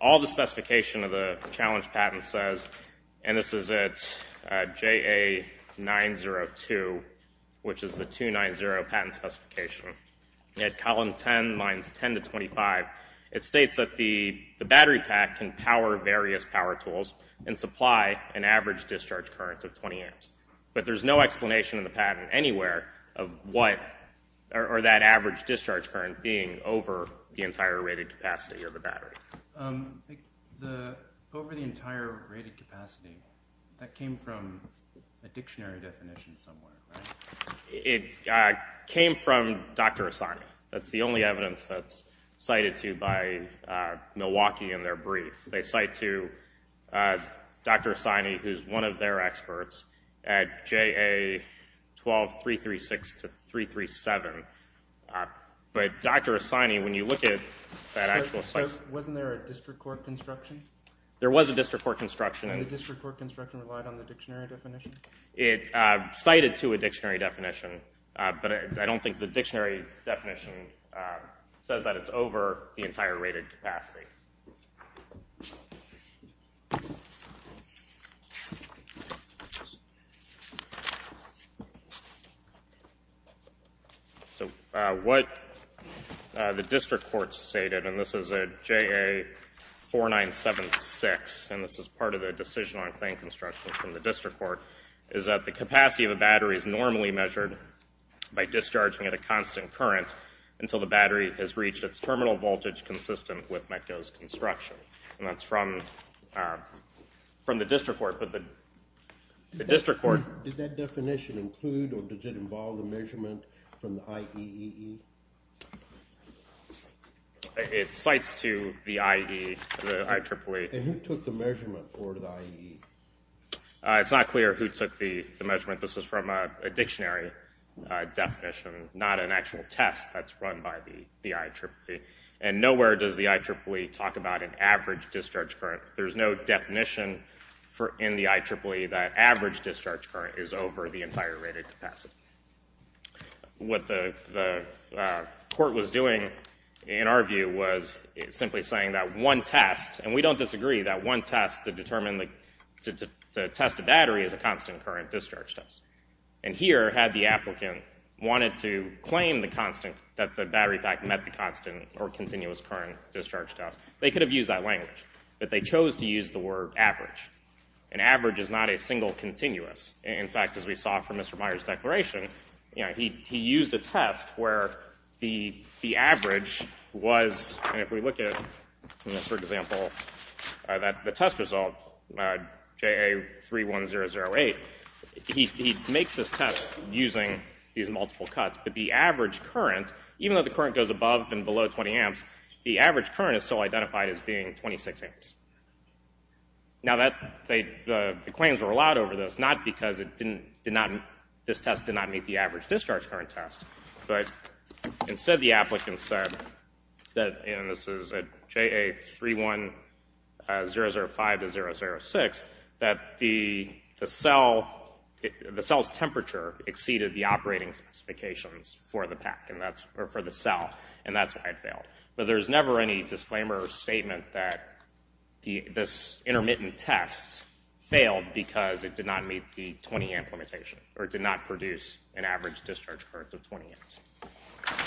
All the specification of the challenge patent says, and this is at JA902, which is the 290 patent specification, at column 10, lines 10 to 25, it states that the battery pack can power various power tools and supply an average discharge current of 20 amps. But there's no explanation in the patent anywhere of what, or that average discharge current being over the entire rated capacity of the battery. Over the entire rated capacity, that came from a dictionary definition somewhere, right? It came from Dr. Assani. That's the only evidence that's cited to by Milwaukee in their brief. They cite to Dr. Assani, who's one of their experts, at JA12336-337. But Dr. Assani, when you look at that actual site... So wasn't there a district court construction? There was a district court construction. And the district court construction relied on the dictionary definition? It cited to a dictionary definition, but I don't think the dictionary definition says that it's over the entire rated capacity. So what the district court stated, and this is at JA4976, and this is part of the decision on claim construction from the district court, is that the capacity of a battery is normally measured by discharging at a constant current until the battery has reached its terminal voltage consistent with MECO's construction. And that's from the district court, but the district court... Did that definition include, or does it involve a measurement from the IEEE? It cites to the IEEE, the I-triple-A. And who took the measurement for the IEEE? It's not clear who took the measurement. This is from a dictionary definition, not an actual test that's run by the IEEE. And nowhere does the IEEE talk about an average discharge current. There's no definition in the IEEE that average discharge current is over the entire rated capacity. What the court was doing, in our view, was simply saying that one test, and we don't the battery, is a constant current discharge test. And here, had the applicant wanted to claim that the battery pack met the constant or continuous current discharge test, they could have used that language, but they chose to use the word average. And average is not a single continuous. In fact, as we saw from Mr. Meyer's declaration, he used a test where the average was, and he makes this test using these multiple cuts, but the average current, even though the current goes above and below 20 amps, the average current is still identified as being 26 amps. Now the claims were allowed over this, not because this test did not meet the average discharge current test, but instead the applicant said, and this is at JA31005-006, that the cell's temperature exceeded the operating specifications for the pack, or for the cell, and that's why it failed. But there's never any disclaimer or statement that this intermittent test failed because it did not meet the 20 amp limitation, or it did not produce an average discharge current of 20 amps.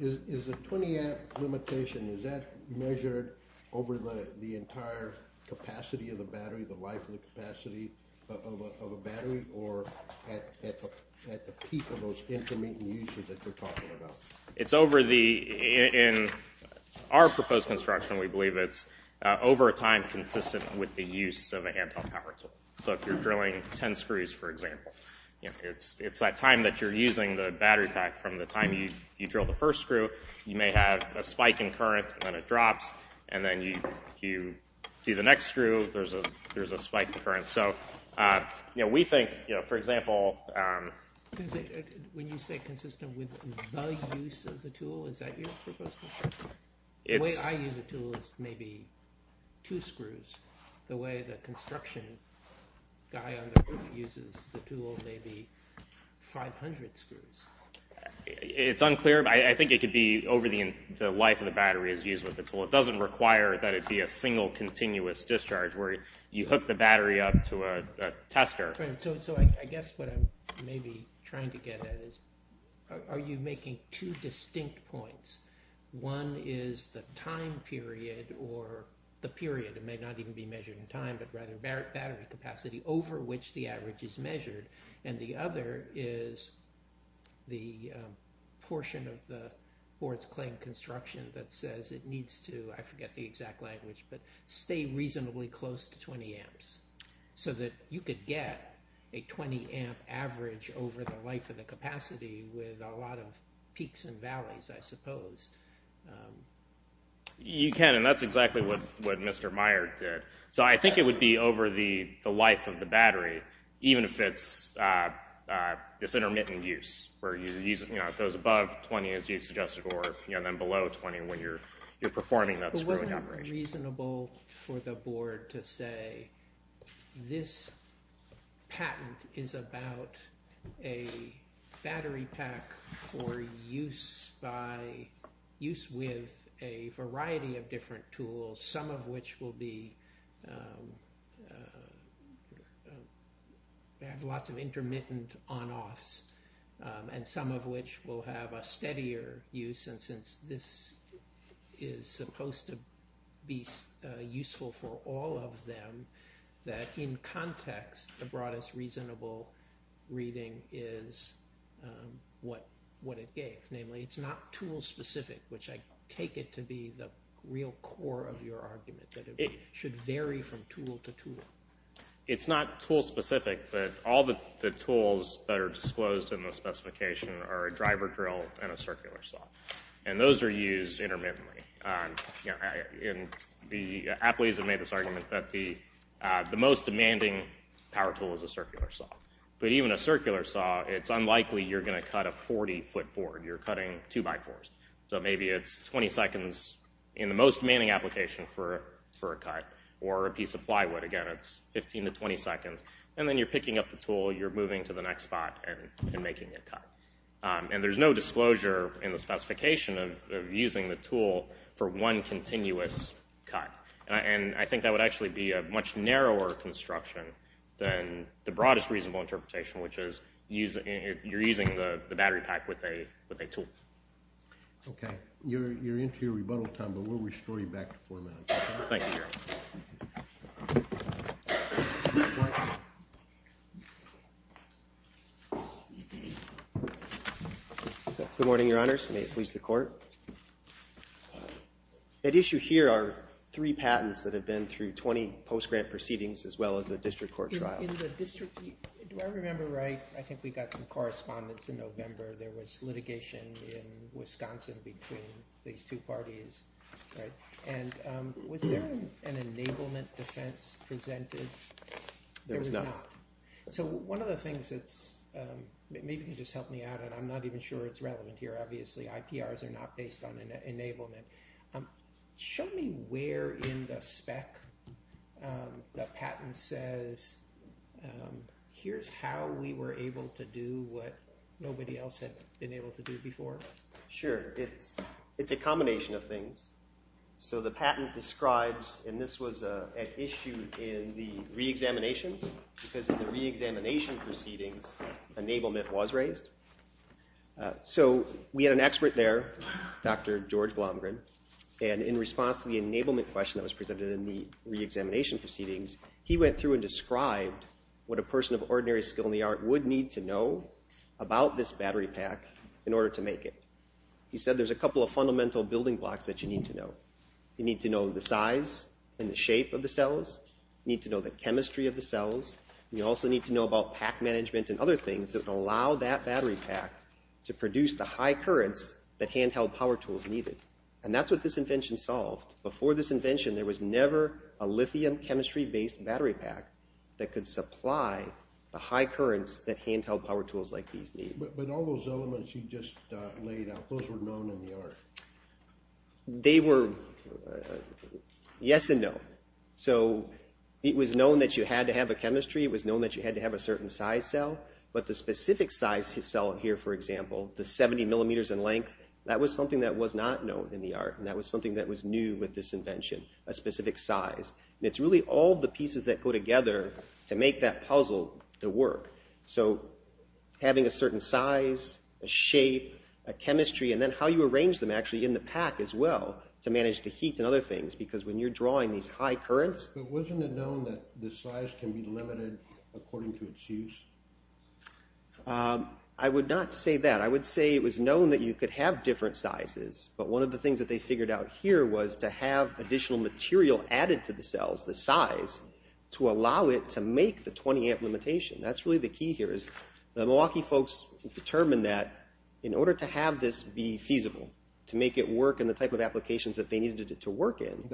Is the 20 amp limitation, is that measured over the entire capacity of the battery, the life of the capacity of a battery, or at the peak of those intermittent uses that you're talking about? It's over the, in our proposed construction, we believe it's over a time consistent with the use of a hand-held power tool. So if you're drilling 10 screws, for example, it's that time that you're using the battery pack. From the time you drill the first screw, you may have a spike in current, and then it drops, and then you do the next screw, there's a spike in current. So we think, for example... When you say consistent with the use of the tool, is that your proposed construction? The way I use a tool is maybe two screws. The way the construction guy on the roof uses the tool may be 500 screws. It's unclear, but I think it could be over the life of the battery as used with the tool. It doesn't require that it be a single continuous discharge where you hook the battery up to a tester. So I guess what I'm maybe trying to get at is, are you making two distinct points? One is the time period, or the period, it may not even be measured in time, but rather battery capacity over which the average is measured. And the other is the portion of the board's claim construction that says it needs to, I forget the exact language, but stay reasonably close to 20 amps. So that you could get a 20 amp average over the life of the capacity with a lot of peaks and valleys, I suppose. You can, and that's exactly what Mr. Meyer did. So I think it would be over the life of the battery, even if it's intermittent use, where it goes above 20, as you suggested, or below 20 when you're performing that screwing operation. But wasn't it reasonable for the board to say, this patent is about a battery pack for use with a variety of different tools, some of which will have lots of intermittent on-offs, and some of which will have a steadier use. And since this is supposed to be useful for all of them, that in context, the broadest reasonable reading is what it gave. Namely, it's not tool-specific, which I take it to be the real core of your argument, that it should vary from tool to tool. It's not tool-specific, but all the tools that are disclosed in the specification are a driver drill and a circular saw. And those are used intermittently. And the athletes have made this argument that the most demanding power tool is a circular saw. But even a circular saw, it's unlikely you're going to cut a 40-foot board. You're cutting two-by-fours. So maybe it's 20 seconds in the most demanding application for a cut. Or a piece of plywood, again, it's 15 to 20 seconds. And then you're picking up the tool, you're moving to the next spot, and making a cut. And there's no disclosure in the specification of using the tool for one continuous cut. And I think that would actually be a much narrower construction than the broadest reasonable interpretation, which is you're using the battery pack with a tool. OK. You're into your rebuttal time, but we'll restore you back to four minutes. Thank you, Gary. Good morning, Your Honors. May it please the Court. At issue here are three patents that have been through 20 post-grant proceedings, as well as a district court trial. In the district, do I remember right? I think we got some correspondence in November. There was litigation in Wisconsin between these two parties. And was there an enablement defense presented? There was not. So one of the things that's, maybe you can just help me out, and I'm not even sure it's relevant here, obviously. IPRs are not based on enablement. Show me where in the spec the patent says, here's how we were able to do what nobody else had been able to do before. Sure. It's a combination of things. So the patent describes, and this was an issue in the re-examinations, because in the re-examination proceedings, enablement was raised. So we had an expert there, Dr. George Blomgren, and in response to the enablement question that was presented in the re-examination proceedings, he went through and described what a person of ordinary skill in the art would need to know about this battery pack in order to make it. He said there's a couple of fundamental building blocks that you need to know. You need to know the size and the shape of the cells. You need to know the chemistry of the cells. You also need to know about pack management and other things that would allow that battery pack to produce the high currents that handheld power tools needed. And that's what this invention solved. Before this invention, there was never a lithium chemistry-based battery pack that could supply the high currents that handheld power tools like these need. But all those elements you just laid out, those were known in the art. They were yes and no. So it was known that you had to have a chemistry. It was known that you had to have a certain size cell. But the specific size cell here, for example, the 70 millimeters in length, that was something that was not known in the art. And that was something that was new with this invention, a specific size. And it's really all the pieces that go together to make that puzzle to work. So having a certain size, a shape, a chemistry, and then how you arrange them actually in the pack as well to manage the heat and other things. Because when you're drawing these high currents... But wasn't it known that the size can be limited according to its use? I would not say that. I would say it was known that you could have different sizes. But one of the things that they figured out here was to have additional material added to the cells, the size, to allow it to make the 20-amp limitation. That's really the key here is the Milwaukee folks determined that in order to have this be feasible, to make it work in the type of applications that they needed it to work in,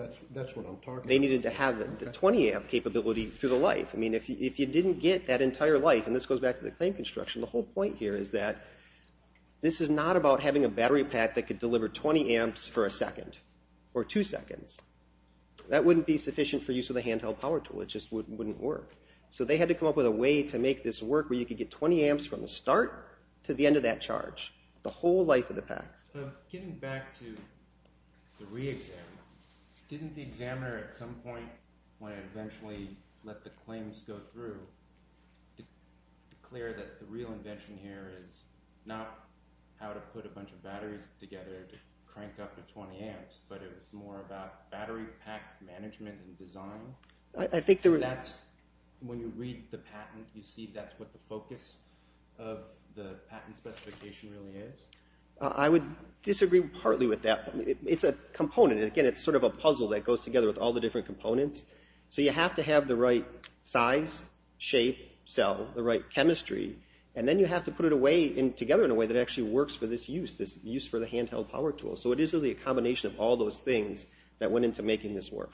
they needed to have the 20-amp capability for the life. I mean, if you didn't get that entire life, and this goes back to the claim construction, the whole point here is that this is not about having a battery pack that could deliver 20 amps for a second or two seconds. That wouldn't be sufficient for use with a handheld power tool. It just wouldn't work. So they had to come up with a way to make this work where you could get 20 amps from the start to the end of that charge, the whole life of the pack. Getting back to the re-exam, didn't the examiner at some point, when it eventually let the claims go through, declare that the real invention here is not how to put a bunch of batteries together to crank up the 20 amps, but it was more about battery pack management and design? When you read the patent, you see that's what the focus of the patent specification really is? I would disagree partly with that. It's a component. Again, it's sort of a puzzle that goes together with all the different components. So you have to have the right size, shape, cell, the right chemistry, and then you have to put it together in a way that actually works for this use, this use for the handheld power tool. So it is really a combination of all those things that went into making this work.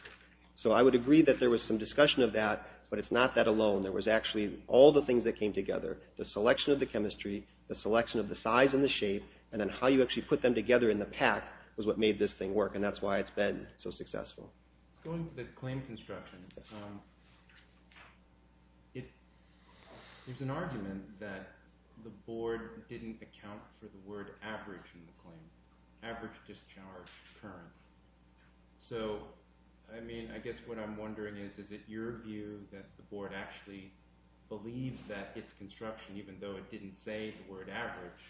So I would agree that there was some discussion of that, but it's not that alone. There was actually all the things that came together, the selection of the chemistry, the selection of the size and the shape, and then how you actually put them together in the pack was what made this thing work, and that's why it's been so successful. Going to the claim construction, there's an argument that the board didn't account for the word average in the claim. Average, discharge, current. So, I mean, I guess what I'm wondering is, is it your view that the board actually believes that its construction, even though it didn't say the word average,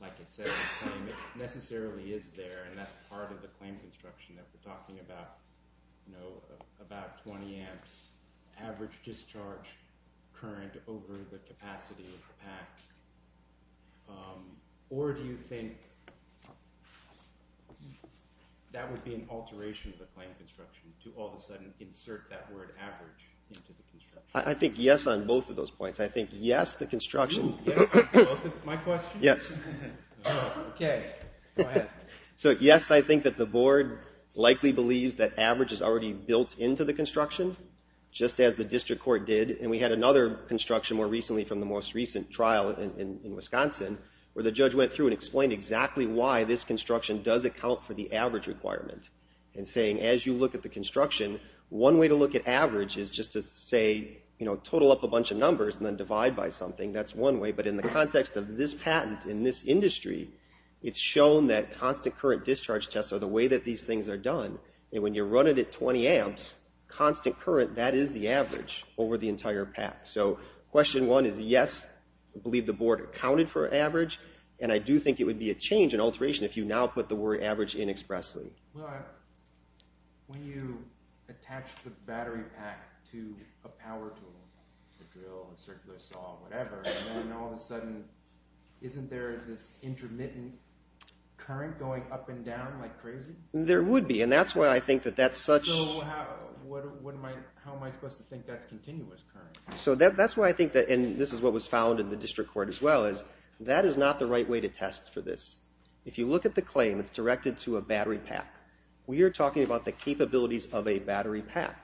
like it says in the claim, it necessarily is there, and that's part of the claim construction that we're talking about, you know, about 20 amps, average discharge current over the capacity of the pack. Or do you think that would be an alteration of the claim construction, to all of a sudden insert that word average into the construction? I think yes on both of those points. I think yes, the construction... My question? Yes. So, yes, I think that the board likely believes that average is already built into the construction, just as the district court did, and we had another construction more recently from the most recent trial in Wisconsin, where the judge went through and explained exactly why this construction does account for the average requirement and saying, as you look at the construction, one way to look at average is just to say, you know, total up a bunch of numbers and then divide by something. That's one way, but in the context of this patent in this industry, it's shown that constant current discharge tests are the way that these things are done, and when you run it at 20 amps, constant current, that is the average over the entire pack. So question one is yes, I believe the board accounted for average, and I do think it would be a change, an alteration, if you now put the word average in expressly. When you attach the battery pack to a power tool, a drill, a circular saw, whatever, and then all of a sudden, isn't there this intermittent current going up and down like crazy? There would be, and that's why I think that that's such... So how am I supposed to think that's continuous current? So that's why I think that, and this is what was found in the district court as well, that is not the right way to test for this. If you look at the claim, it's directed to a battery pack. We are talking about the capabilities of a battery pack.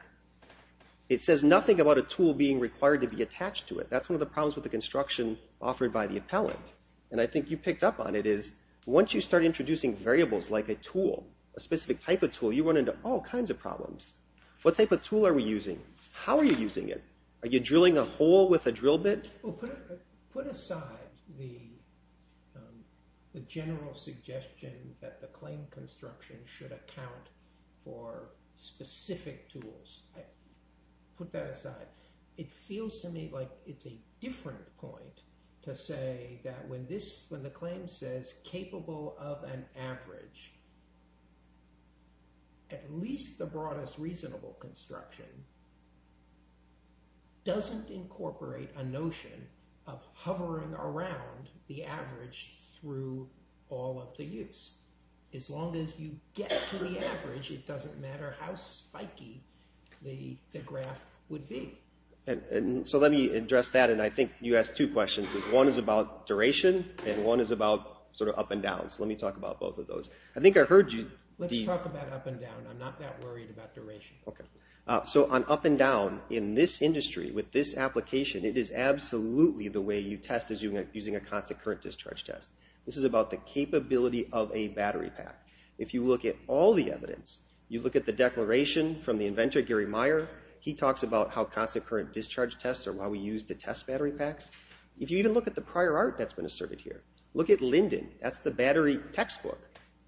It says nothing about a tool being required to be attached to it. That's one of the problems with the construction offered by the appellant, and I think you picked up on it, is once you start introducing variables like a tool, a specific type of tool, you run into all kinds of problems. What type of tool are we using? How are you using it? Are you drilling a hole with a drill bit? Put aside the general suggestion that the claim construction should account for specific tools. Put that aside. It feels to me like it's a different point to say that when the claim says capable of an average, at least the broadest reasonable construction doesn't incorporate a notion of hovering around the average through all of the use. As long as you get to the average, it doesn't matter how spiky the graph would be. Let me address that, and I think you asked two questions. One is about duration, and one is about up and down. Let me talk about both of those. I think I heard you. Let's talk about up and down. I'm not that worried about duration. On up and down, in this industry, with this application, it is absolutely the way you test using a constant current discharge test. This is about the capability of a battery pack. If you look at all the evidence, you look at the declaration from the inventor, Gary Meyer, he talks about how constant current discharge tests are why we use to test battery packs. If you even look at the prior art that's been asserted here, look at Linden. That's the battery textbook.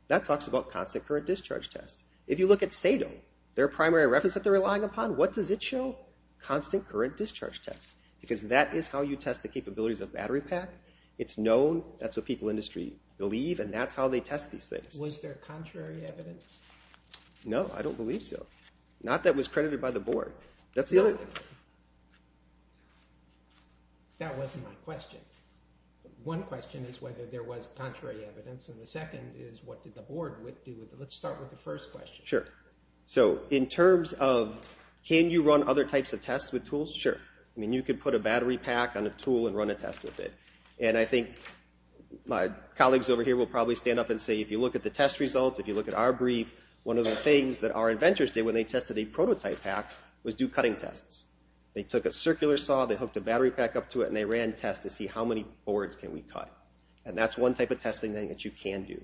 That talks about constant current discharge tests. If you look at Sado, their primary reference that they're relying upon, what does it show? Constant current discharge tests. Because that is how you test the capabilities of a battery pack. It's known, that's what people in the industry believe, and that's how they test these things. Was there contrary evidence? No, I don't believe so. Not that it was credited by the board. That wasn't my question. One question is whether there was Let's start with the first question. Sure. In terms of, can you run other types of tests with tools? Sure. You can put a battery pack on a tool and run a test with it. My colleagues over here will probably stand up and say, if you look at the test results, if you look at our brief, one of the things that our inventors did when they tested a prototype pack was do cutting tests. They took a circular saw, they hooked a battery pack up to it, and they ran tests to see how many boards can we cut. And that's one type of testing that you can do.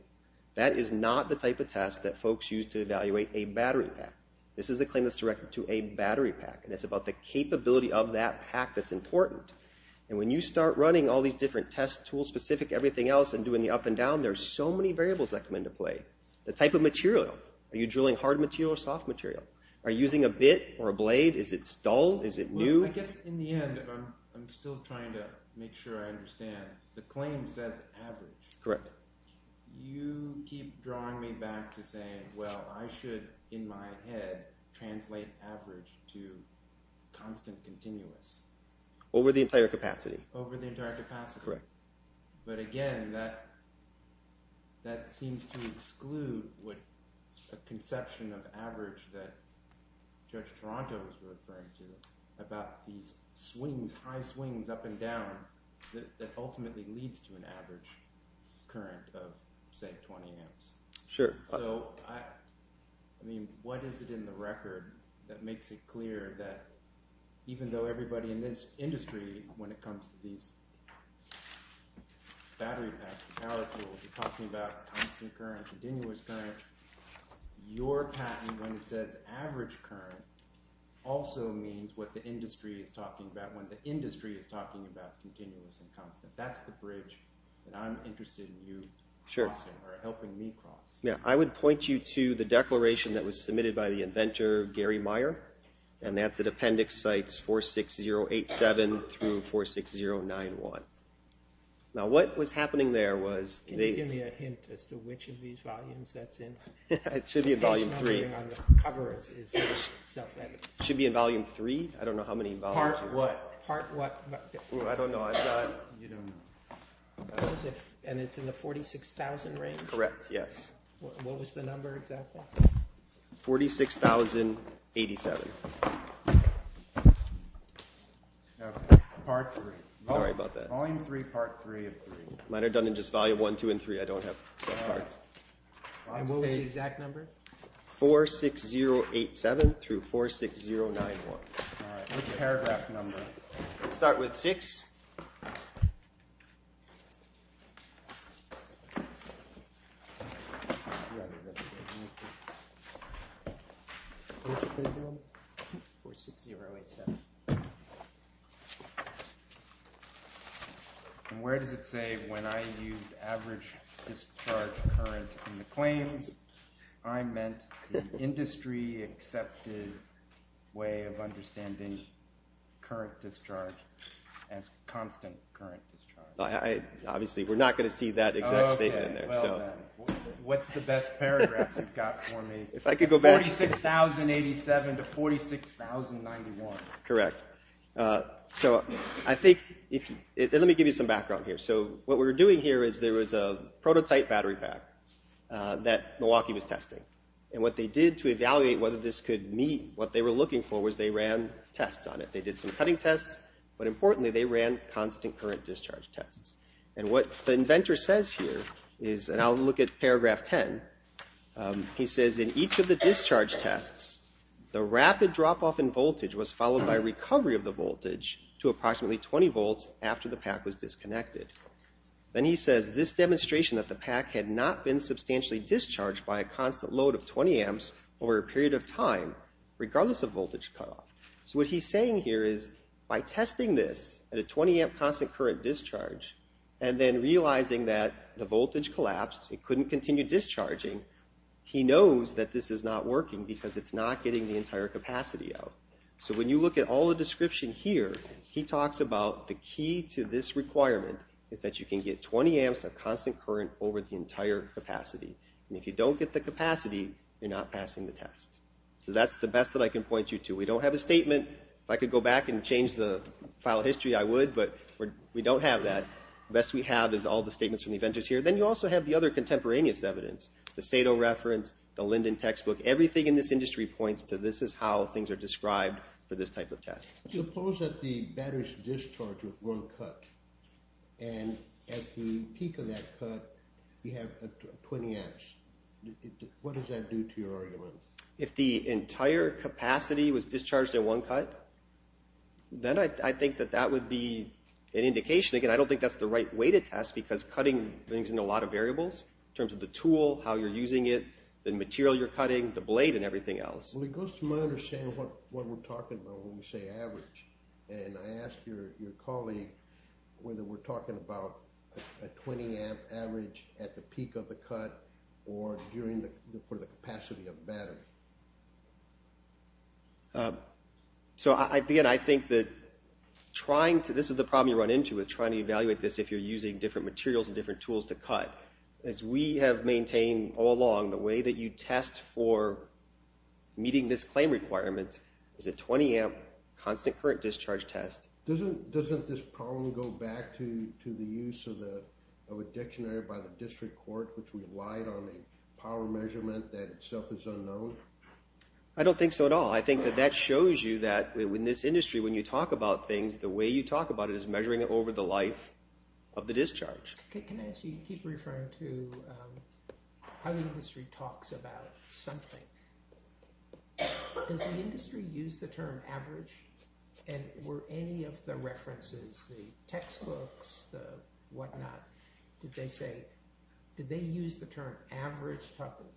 That is not the type of test that folks use to evaluate a battery pack. This is a claim that's directed to a battery pack. And it's about the capability of that pack that's important. And when you start running all these different test tools, specific to everything else, and doing the up and down, there's so many variables that come into play. The type of material. Are you drilling hard material or soft material? Are you using a bit or a blade? Is it dull? Is it new? I guess in the end, I'm still trying to make sure I understand. The claim says average. You keep drawing me back to saying, well, I should, in my head, translate average to constant continuous. Over the entire capacity. But again, that seems to exclude a conception of average that Judge Toronto was referring to about these swings, these high swings up and down that ultimately leads to an average current of, say, 20 amps. What is it in the record that makes it clear that even though everybody in this industry, when it comes to these battery packs and power tools, is talking about constant current and continuous current, your patent, when it says average current, also means what the industry is talking about when the industry is talking about continuous and constant. That's the bridge that I'm interested in you crossing or helping me cross. I would point you to the declaration that was submitted by the inventor Gary Meyer and that's at Appendix Sites 46087 through 46091. Now what was happening there was Can you give me a hint as to which of these volumes that's in? It should be in volume 3. The thing on the cover is self-editing. It should be in volume 3. Part what? I don't know. And it's in the 46,000 range? Correct, yes. What was the number exactly? 46,087. Part 3. Volume 3, part 3, and 3. Mine are done in just volume 1, 2, and 3. I don't have... And what was the exact number? 46087 through 46091. Alright, which paragraph number? Let's start with 6. 46087. And where does it say when I used average discharge current in the claims? I meant industry accepted way of understanding current discharge as constant current discharge. Obviously we're not going to see that exact statement. What's the best paragraph you've got for me? 46,087 to 46091. Correct. Let me give you some background here. So what we're doing here is there was a prototype battery pack that Milwaukee was testing. And what they did to evaluate whether this could meet what they were looking for was they ran tests on it. They did some cutting tests but importantly they ran constant current discharge tests. And what the inventor says here is and I'll look at paragraph 10 he says in each of the discharge tests the rapid drop off in voltage was followed by recovery of the voltage to approximately 20 volts after the pack was disconnected. Then he says this demonstration that the pack had not been substantially discharged by a constant load of 20 amps over a period of time regardless of voltage cut off. So what he's saying here is by testing this at a 20 amp constant current discharge and then realizing that the voltage collapsed it couldn't continue discharging he knows that this is not working because it's not getting the entire capacity out. So when you look at all the description here he talks about the key to this requirement is that you can get 20 amps of constant current over the entire capacity. And if you don't get the capacity you're not passing the test. So that's the best that I can point you to. We don't have a statement if I could go back and change the file history I would but we don't have that. The best we have is all the statements from the inventors here. Then you also have the other contemporaneous evidence. The Sato reference, the Linden textbook, everything in this industry points to this is how things are described for this type of test. Suppose that the battery's discharged with one cut and at the peak of that cut you have 20 amps. What does that do to your argument? If the entire capacity was discharged in one cut then I think that that would be an indication again I don't think that's the right way to test because cutting brings in a lot of variables in terms of the tool, how you're using it the material you're cutting, the blade and everything else. Well it goes to my understanding what we're talking about when we say average and I ask your colleague whether we're talking about a 20 amp average at the peak of the cut or during the capacity of the battery. So again I think that trying to, this is the problem you run into with trying to evaluate this if you're using different materials and different tools to cut. We have maintained all along the way that you test for meeting this claim requirement is a 20 amp constant current discharge test. Doesn't this problem go back to the use of a dictionary by the district court which relied on a power measurement that itself is unknown? I don't think so at all. I think that that shows you that in this industry when you talk about things the way you talk about it is measuring it over the life of the discharge. Can I ask you to keep referring to how the industry talks about something. Does the industry use the term average and were any of the references, the textbooks, the whatnot did they say, did they use the term average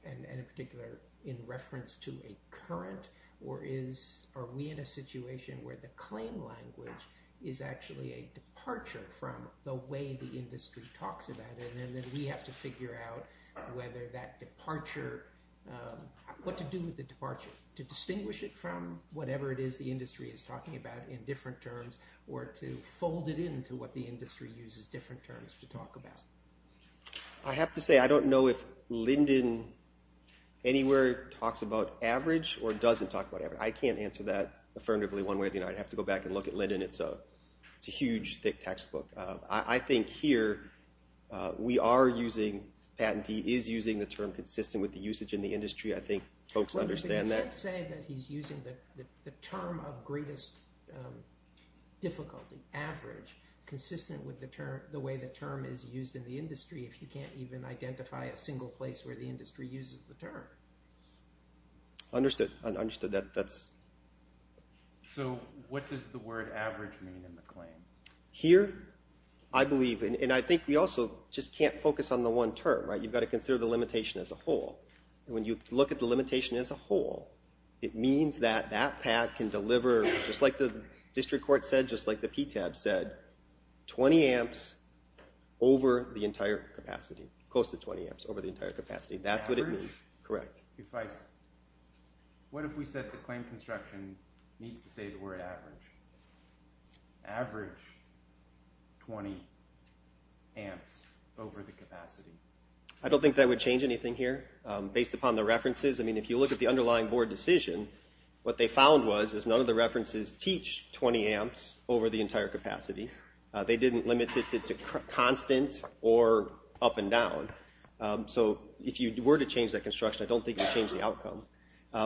and in particular in reference to a current or is are we in a situation where the claim language is actually a departure from the way the industry talks about it and we have to figure out whether that departure what to do with the departure to distinguish it from whatever it is the industry is talking about in different terms or to fold it into what the industry uses different terms to talk about. I have to say I don't know if Linden anywhere talks about average or doesn't talk about average. I can't answer that affirmatively one way or the other. I'd have to go back and look at Linden. It's a huge thick textbook. I think here we are using patentee is using the term consistent with the usage in the industry. I think folks understand that. You can't say that he's using the term of greatest difficulty, average consistent with the term the way the term is used in the industry if you can't even identify a single place where the industry uses the term. Understood. So what does the word average mean in the claim? Here, I believe, and I think we also just can't focus on the one term. You've got to consider the limitation as a whole. When you look at the limitation as a whole it means that that pat can deliver, just like the district court said, just like the PTAB said 20 amps over the entire capacity. Close to 20 amps over the entire capacity. That's what it means. What if we said the claim construction needs to say the word average average 20 amps over the capacity? I don't think that would change anything here. Based upon the references, I mean, if you look at the underlying board decision, what they found was is none of the references teach 20 amps over the entire capacity. They didn't limit it to constant or up and down. So if you were to change that construction, I don't think it would change the outcome.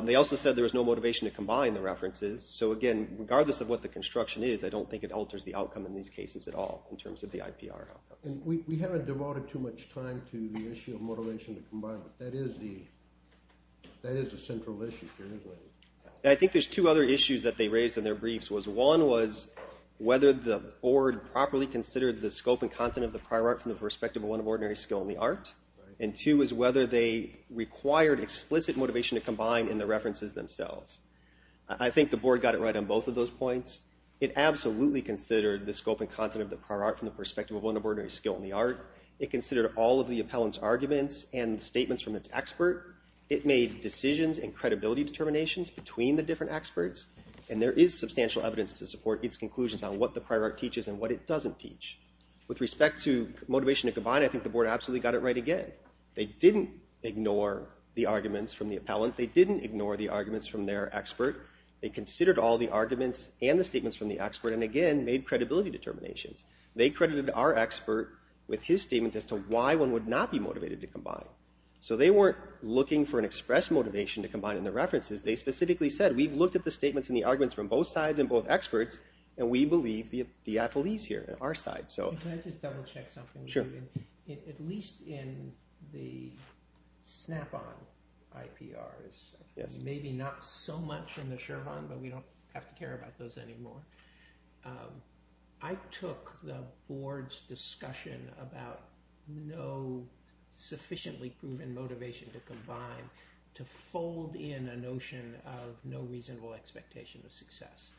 They also said there was no Regardless of what the construction is, I don't think it alters the outcome in these cases at all in terms of the IPR. We haven't devoted too much time to the issue of motivation to combine. That is a central issue. I think there's two other issues that they raised in their briefs. One was whether the board properly considered the scope and content of the prior art from the perspective of one of ordinary skill in the art. And two is whether they required explicit motivation to combine in the references themselves. I think the board got it right on both of those points. It absolutely considered the scope and content of the prior art from the perspective of one of ordinary skill in the art. It considered all of the appellant's arguments and statements from its expert. It made decisions and credibility determinations between the different experts. And there is substantial evidence to support its conclusions on what the prior art teaches and what it doesn't teach. With respect to motivation to combine, I think the board absolutely got it right again. They didn't ignore the arguments from the appellant. They didn't ignore the arguments from their expert. They considered all the arguments and the statements from the expert and again made credibility determinations. They credited our expert with his statements as to why one would not be motivated to combine. So they weren't looking for an express motivation to combine in the references. They specifically said, we've looked at the statements and the arguments from both sides and both experts and we believe the appellee's here on our side. Can I just double check something? Sure. At least in the snap-on IPRs maybe not so much in the Shervan, but we don't have to care about those anymore. I took the board's discussion about no sufficiently proven motivation to combine to fold in a notion of no reasonable expectation of success.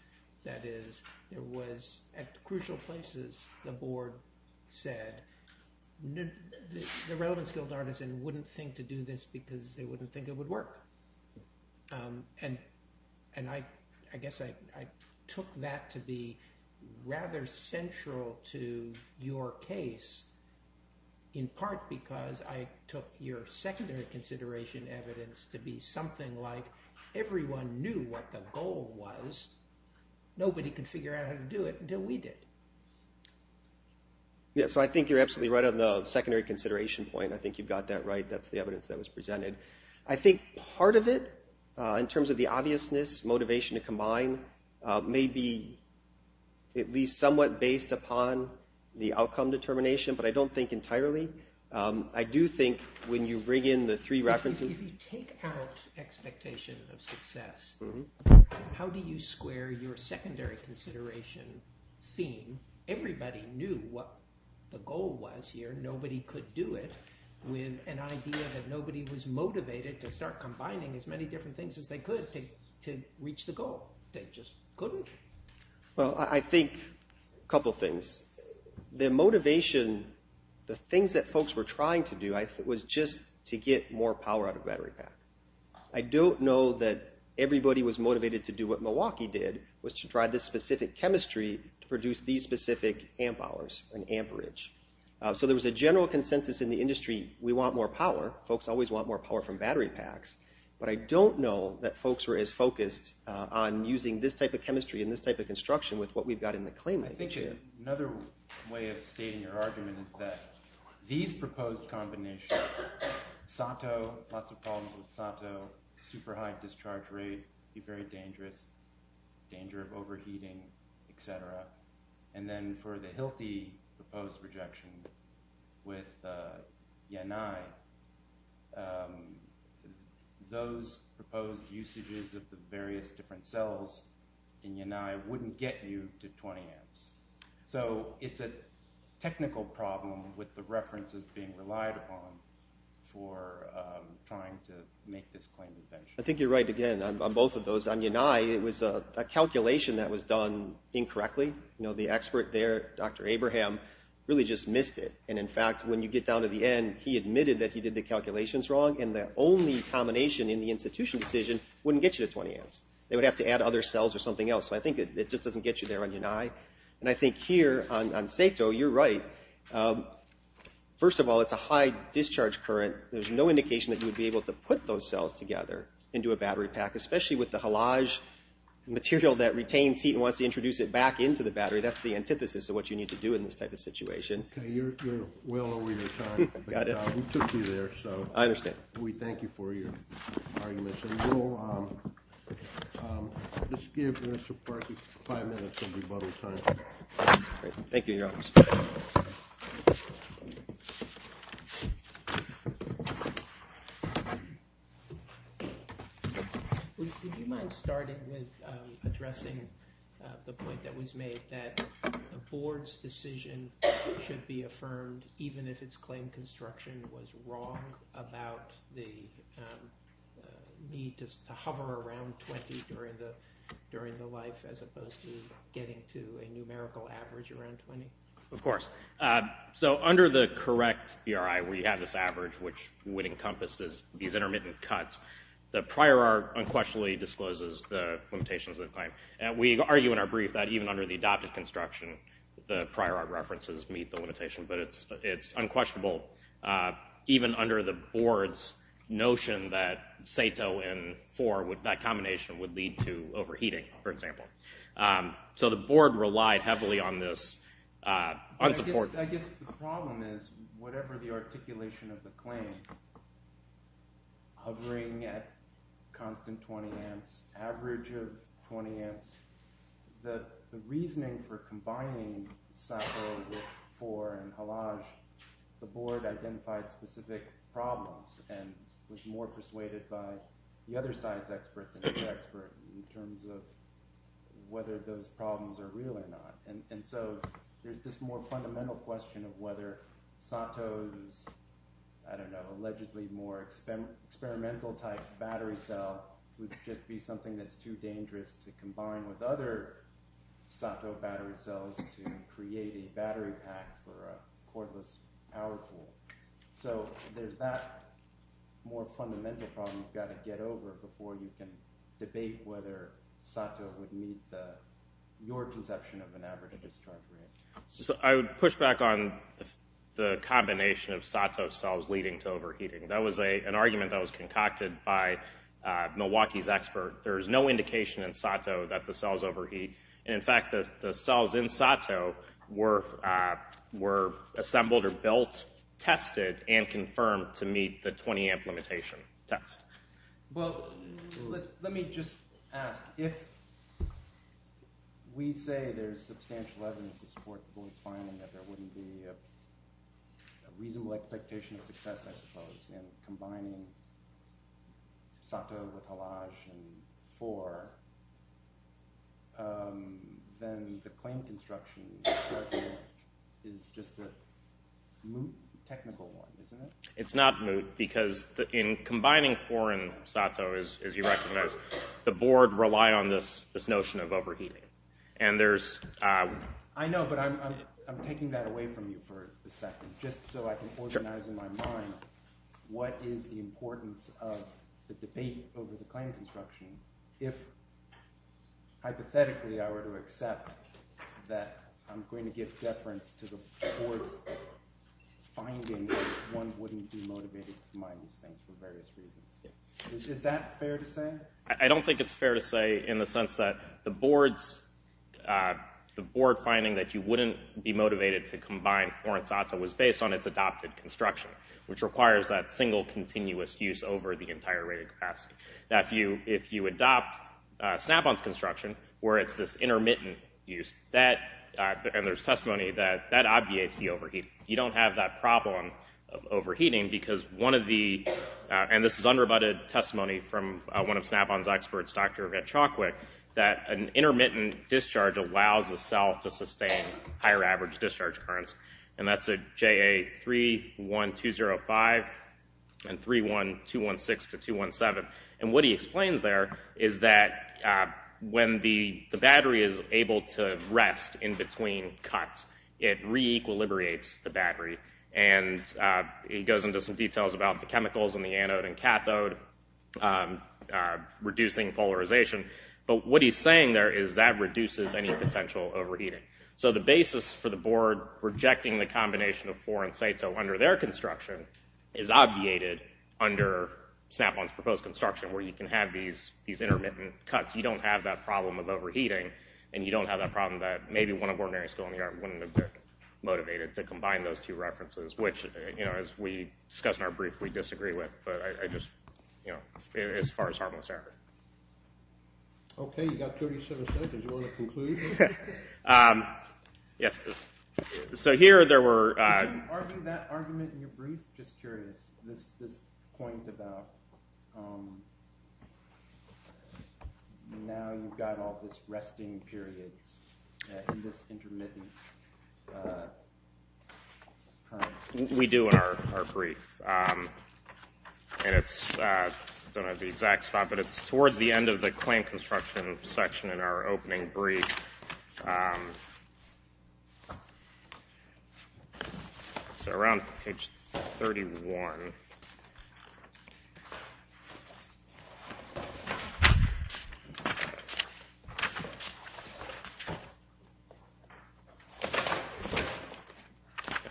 That is it was at crucial places the board said the relevance would not think to do this because they wouldn't think it would work. And I guess I took that to be rather central to your case in part because I took your secondary consideration evidence to be something like everyone knew what the goal was nobody could figure out how to do it until we did. So I think you're absolutely right on the secondary consideration point that's the evidence that was presented I think part of it in terms of the obviousness, motivation to combine, may be at least somewhat based upon the outcome determination but I don't think entirely I do think when you bring in the three references If you take out expectation of success how do you square your secondary consideration theme, everybody knew what the goal was here nobody could do it with an idea that nobody was motivated to start combining as many different things as they could to reach the goal they just couldn't Well I think a couple things the motivation the things that folks were trying to do I think was just to get more power out of the battery pack I don't know that everybody was motivated to do what Milwaukee did was to try this specific chemistry to produce these specific amp hours or an amperage so there was a general consensus in the industry we want more power, folks always want more power from battery packs but I don't know that folks were as focused on using this type of chemistry and this type of construction with what we've got in the claim I think another way of stating your argument is that these proposed combinations Sato, lots of problems with Sato super high discharge rate be very dangerous danger of overheating etcetera and then for the Hilti proposed rejection with Yanai those proposed usages of the various different cells in Yanai wouldn't get you to 20 amps so it's a technical problem with the references being relied upon for trying to make this claim as benchmark I think you're right again on both of those on Yanai it was a calculation that was done incorrectly the expert there, Dr. Abraham really just missed it and in fact when you get down to the end he admitted that he did the calculations wrong and the only combination in the institution decision wouldn't get you to 20 amps they would have to add other cells or something else so I think it just doesn't get you there on Yanai and I think here on Sato, you're right first of all it's a high discharge current there's no indication that you would be able to put those cells together into a battery pack especially with the halage material that retains heat and wants to introduce it back into the battery, that's the antithesis of what you need to do in this type of situation you're well over your time we took you there we thank you for your argument we'll just give Mr. Parkey five minutes of rebuttal time thank you thank you would you mind starting with addressing the point that was made that the board's decision should be affirmed even if it's claimed construction was wrong about the need to hover around 20 during the life as opposed to getting to a numerical average around 20? of course, so under the correct PRI where you have this average which would encompass these intermittent cuts the prior art unquestionably discloses the limitations of the claim and we argue in our brief that even under the adopted construction, the prior art references meet the limitation but it's unquestionable even under the board's notion that Sato and that combination would lead to overheating, for example so the board relied heavily on this unsupported I guess the problem is, whatever the articulation of the claim hovering at constant 20 amps average of 20 amps the reasoning for combining Sato with Fore and Halage the board identified specific problems and was more persuaded by the other side's expert than the expert in terms of whether those problems are real or not and so there's this more fundamental question of whether Sato's allegedly more experimental type battery cell would just be something that's too dangerous to combine with other Sato battery cells to create a battery pack for a cordless power pool so there's that more fundamental problem you've got to get over before you can debate whether Sato would meet the your conception of an average discharge rate I would push back on the combination of Sato cells leading to overheating that was an argument that was concocted by Milwaukee's expert there's no indication in Sato that the cells overheat and in fact the cells in Sato were assembled or built tested and confirmed to meet the 20 amp limitation test let me just ask if we say there's substantial evidence to support the board's finding that there wouldn't be a reasonable expectation of success I suppose in combining Sato with Halage and 4 then the claim construction is just a moot technical one it's not moot because in combining 4 and Sato as you recognize the board relied on this notion of overheating and there's I know but I'm taking that away from you for a second just so I can organize in my mind what is the importance of the debate over the claim construction if hypothetically I were to accept that I'm going to give deference to the board's finding that one wouldn't be motivated to combine these things for various reasons is that fair to say? I don't think it's fair to say in the sense that the board's finding that you wouldn't be motivated to combine 4 and Sato was based on its adopted construction which requires that single continuous use over the entire rated capacity if you adopt Snap-On's construction where it's this intermittent use and there's testimony that that obviates the overheating you don't have that problem overheating because one of the and this is unrebutted testimony from one of Snap-On's experts Dr. Ed Chalkwick that an intermittent discharge allows the cell to sustain higher average discharge currents and that's a JA31205 and 31216 to 217 and what he explains there is that when the battery is able to rest in between cuts it re-equilibriates the battery and he goes into some details about the chemicals in the anode and cathode reducing polarization but what he's saying there is that reduces any potential overheating so the basis for the board rejecting the combination of 4 and Sato under their construction is obviated under Snap-On's proposed construction where you can have these intermittent cuts you don't have that problem of overheating and you don't have that problem that maybe one of ordinary school in the yard wouldn't have been motivated to combine those two references which as we discussed in our brief we disagree with but I just as far as harmless error Okay you got 37 seconds do you want to conclude? Yes So here there were Can you argue that argument in your brief? Just curious this point about um now you've got all this resting periods in this intermittent We do in our brief and it's towards the end of the claim construction section in our opening brief so around page 31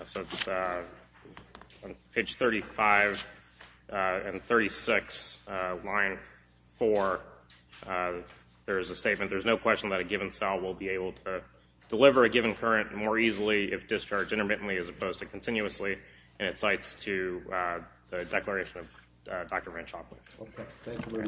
So it's on page 35 and 36 line 4 there's a statement there's no question that a given cell will be able to deliver a given current more easily if discharged intermittently as opposed to continuously and it cites to the declaration of Dr. Ranchoff Thank you Thank you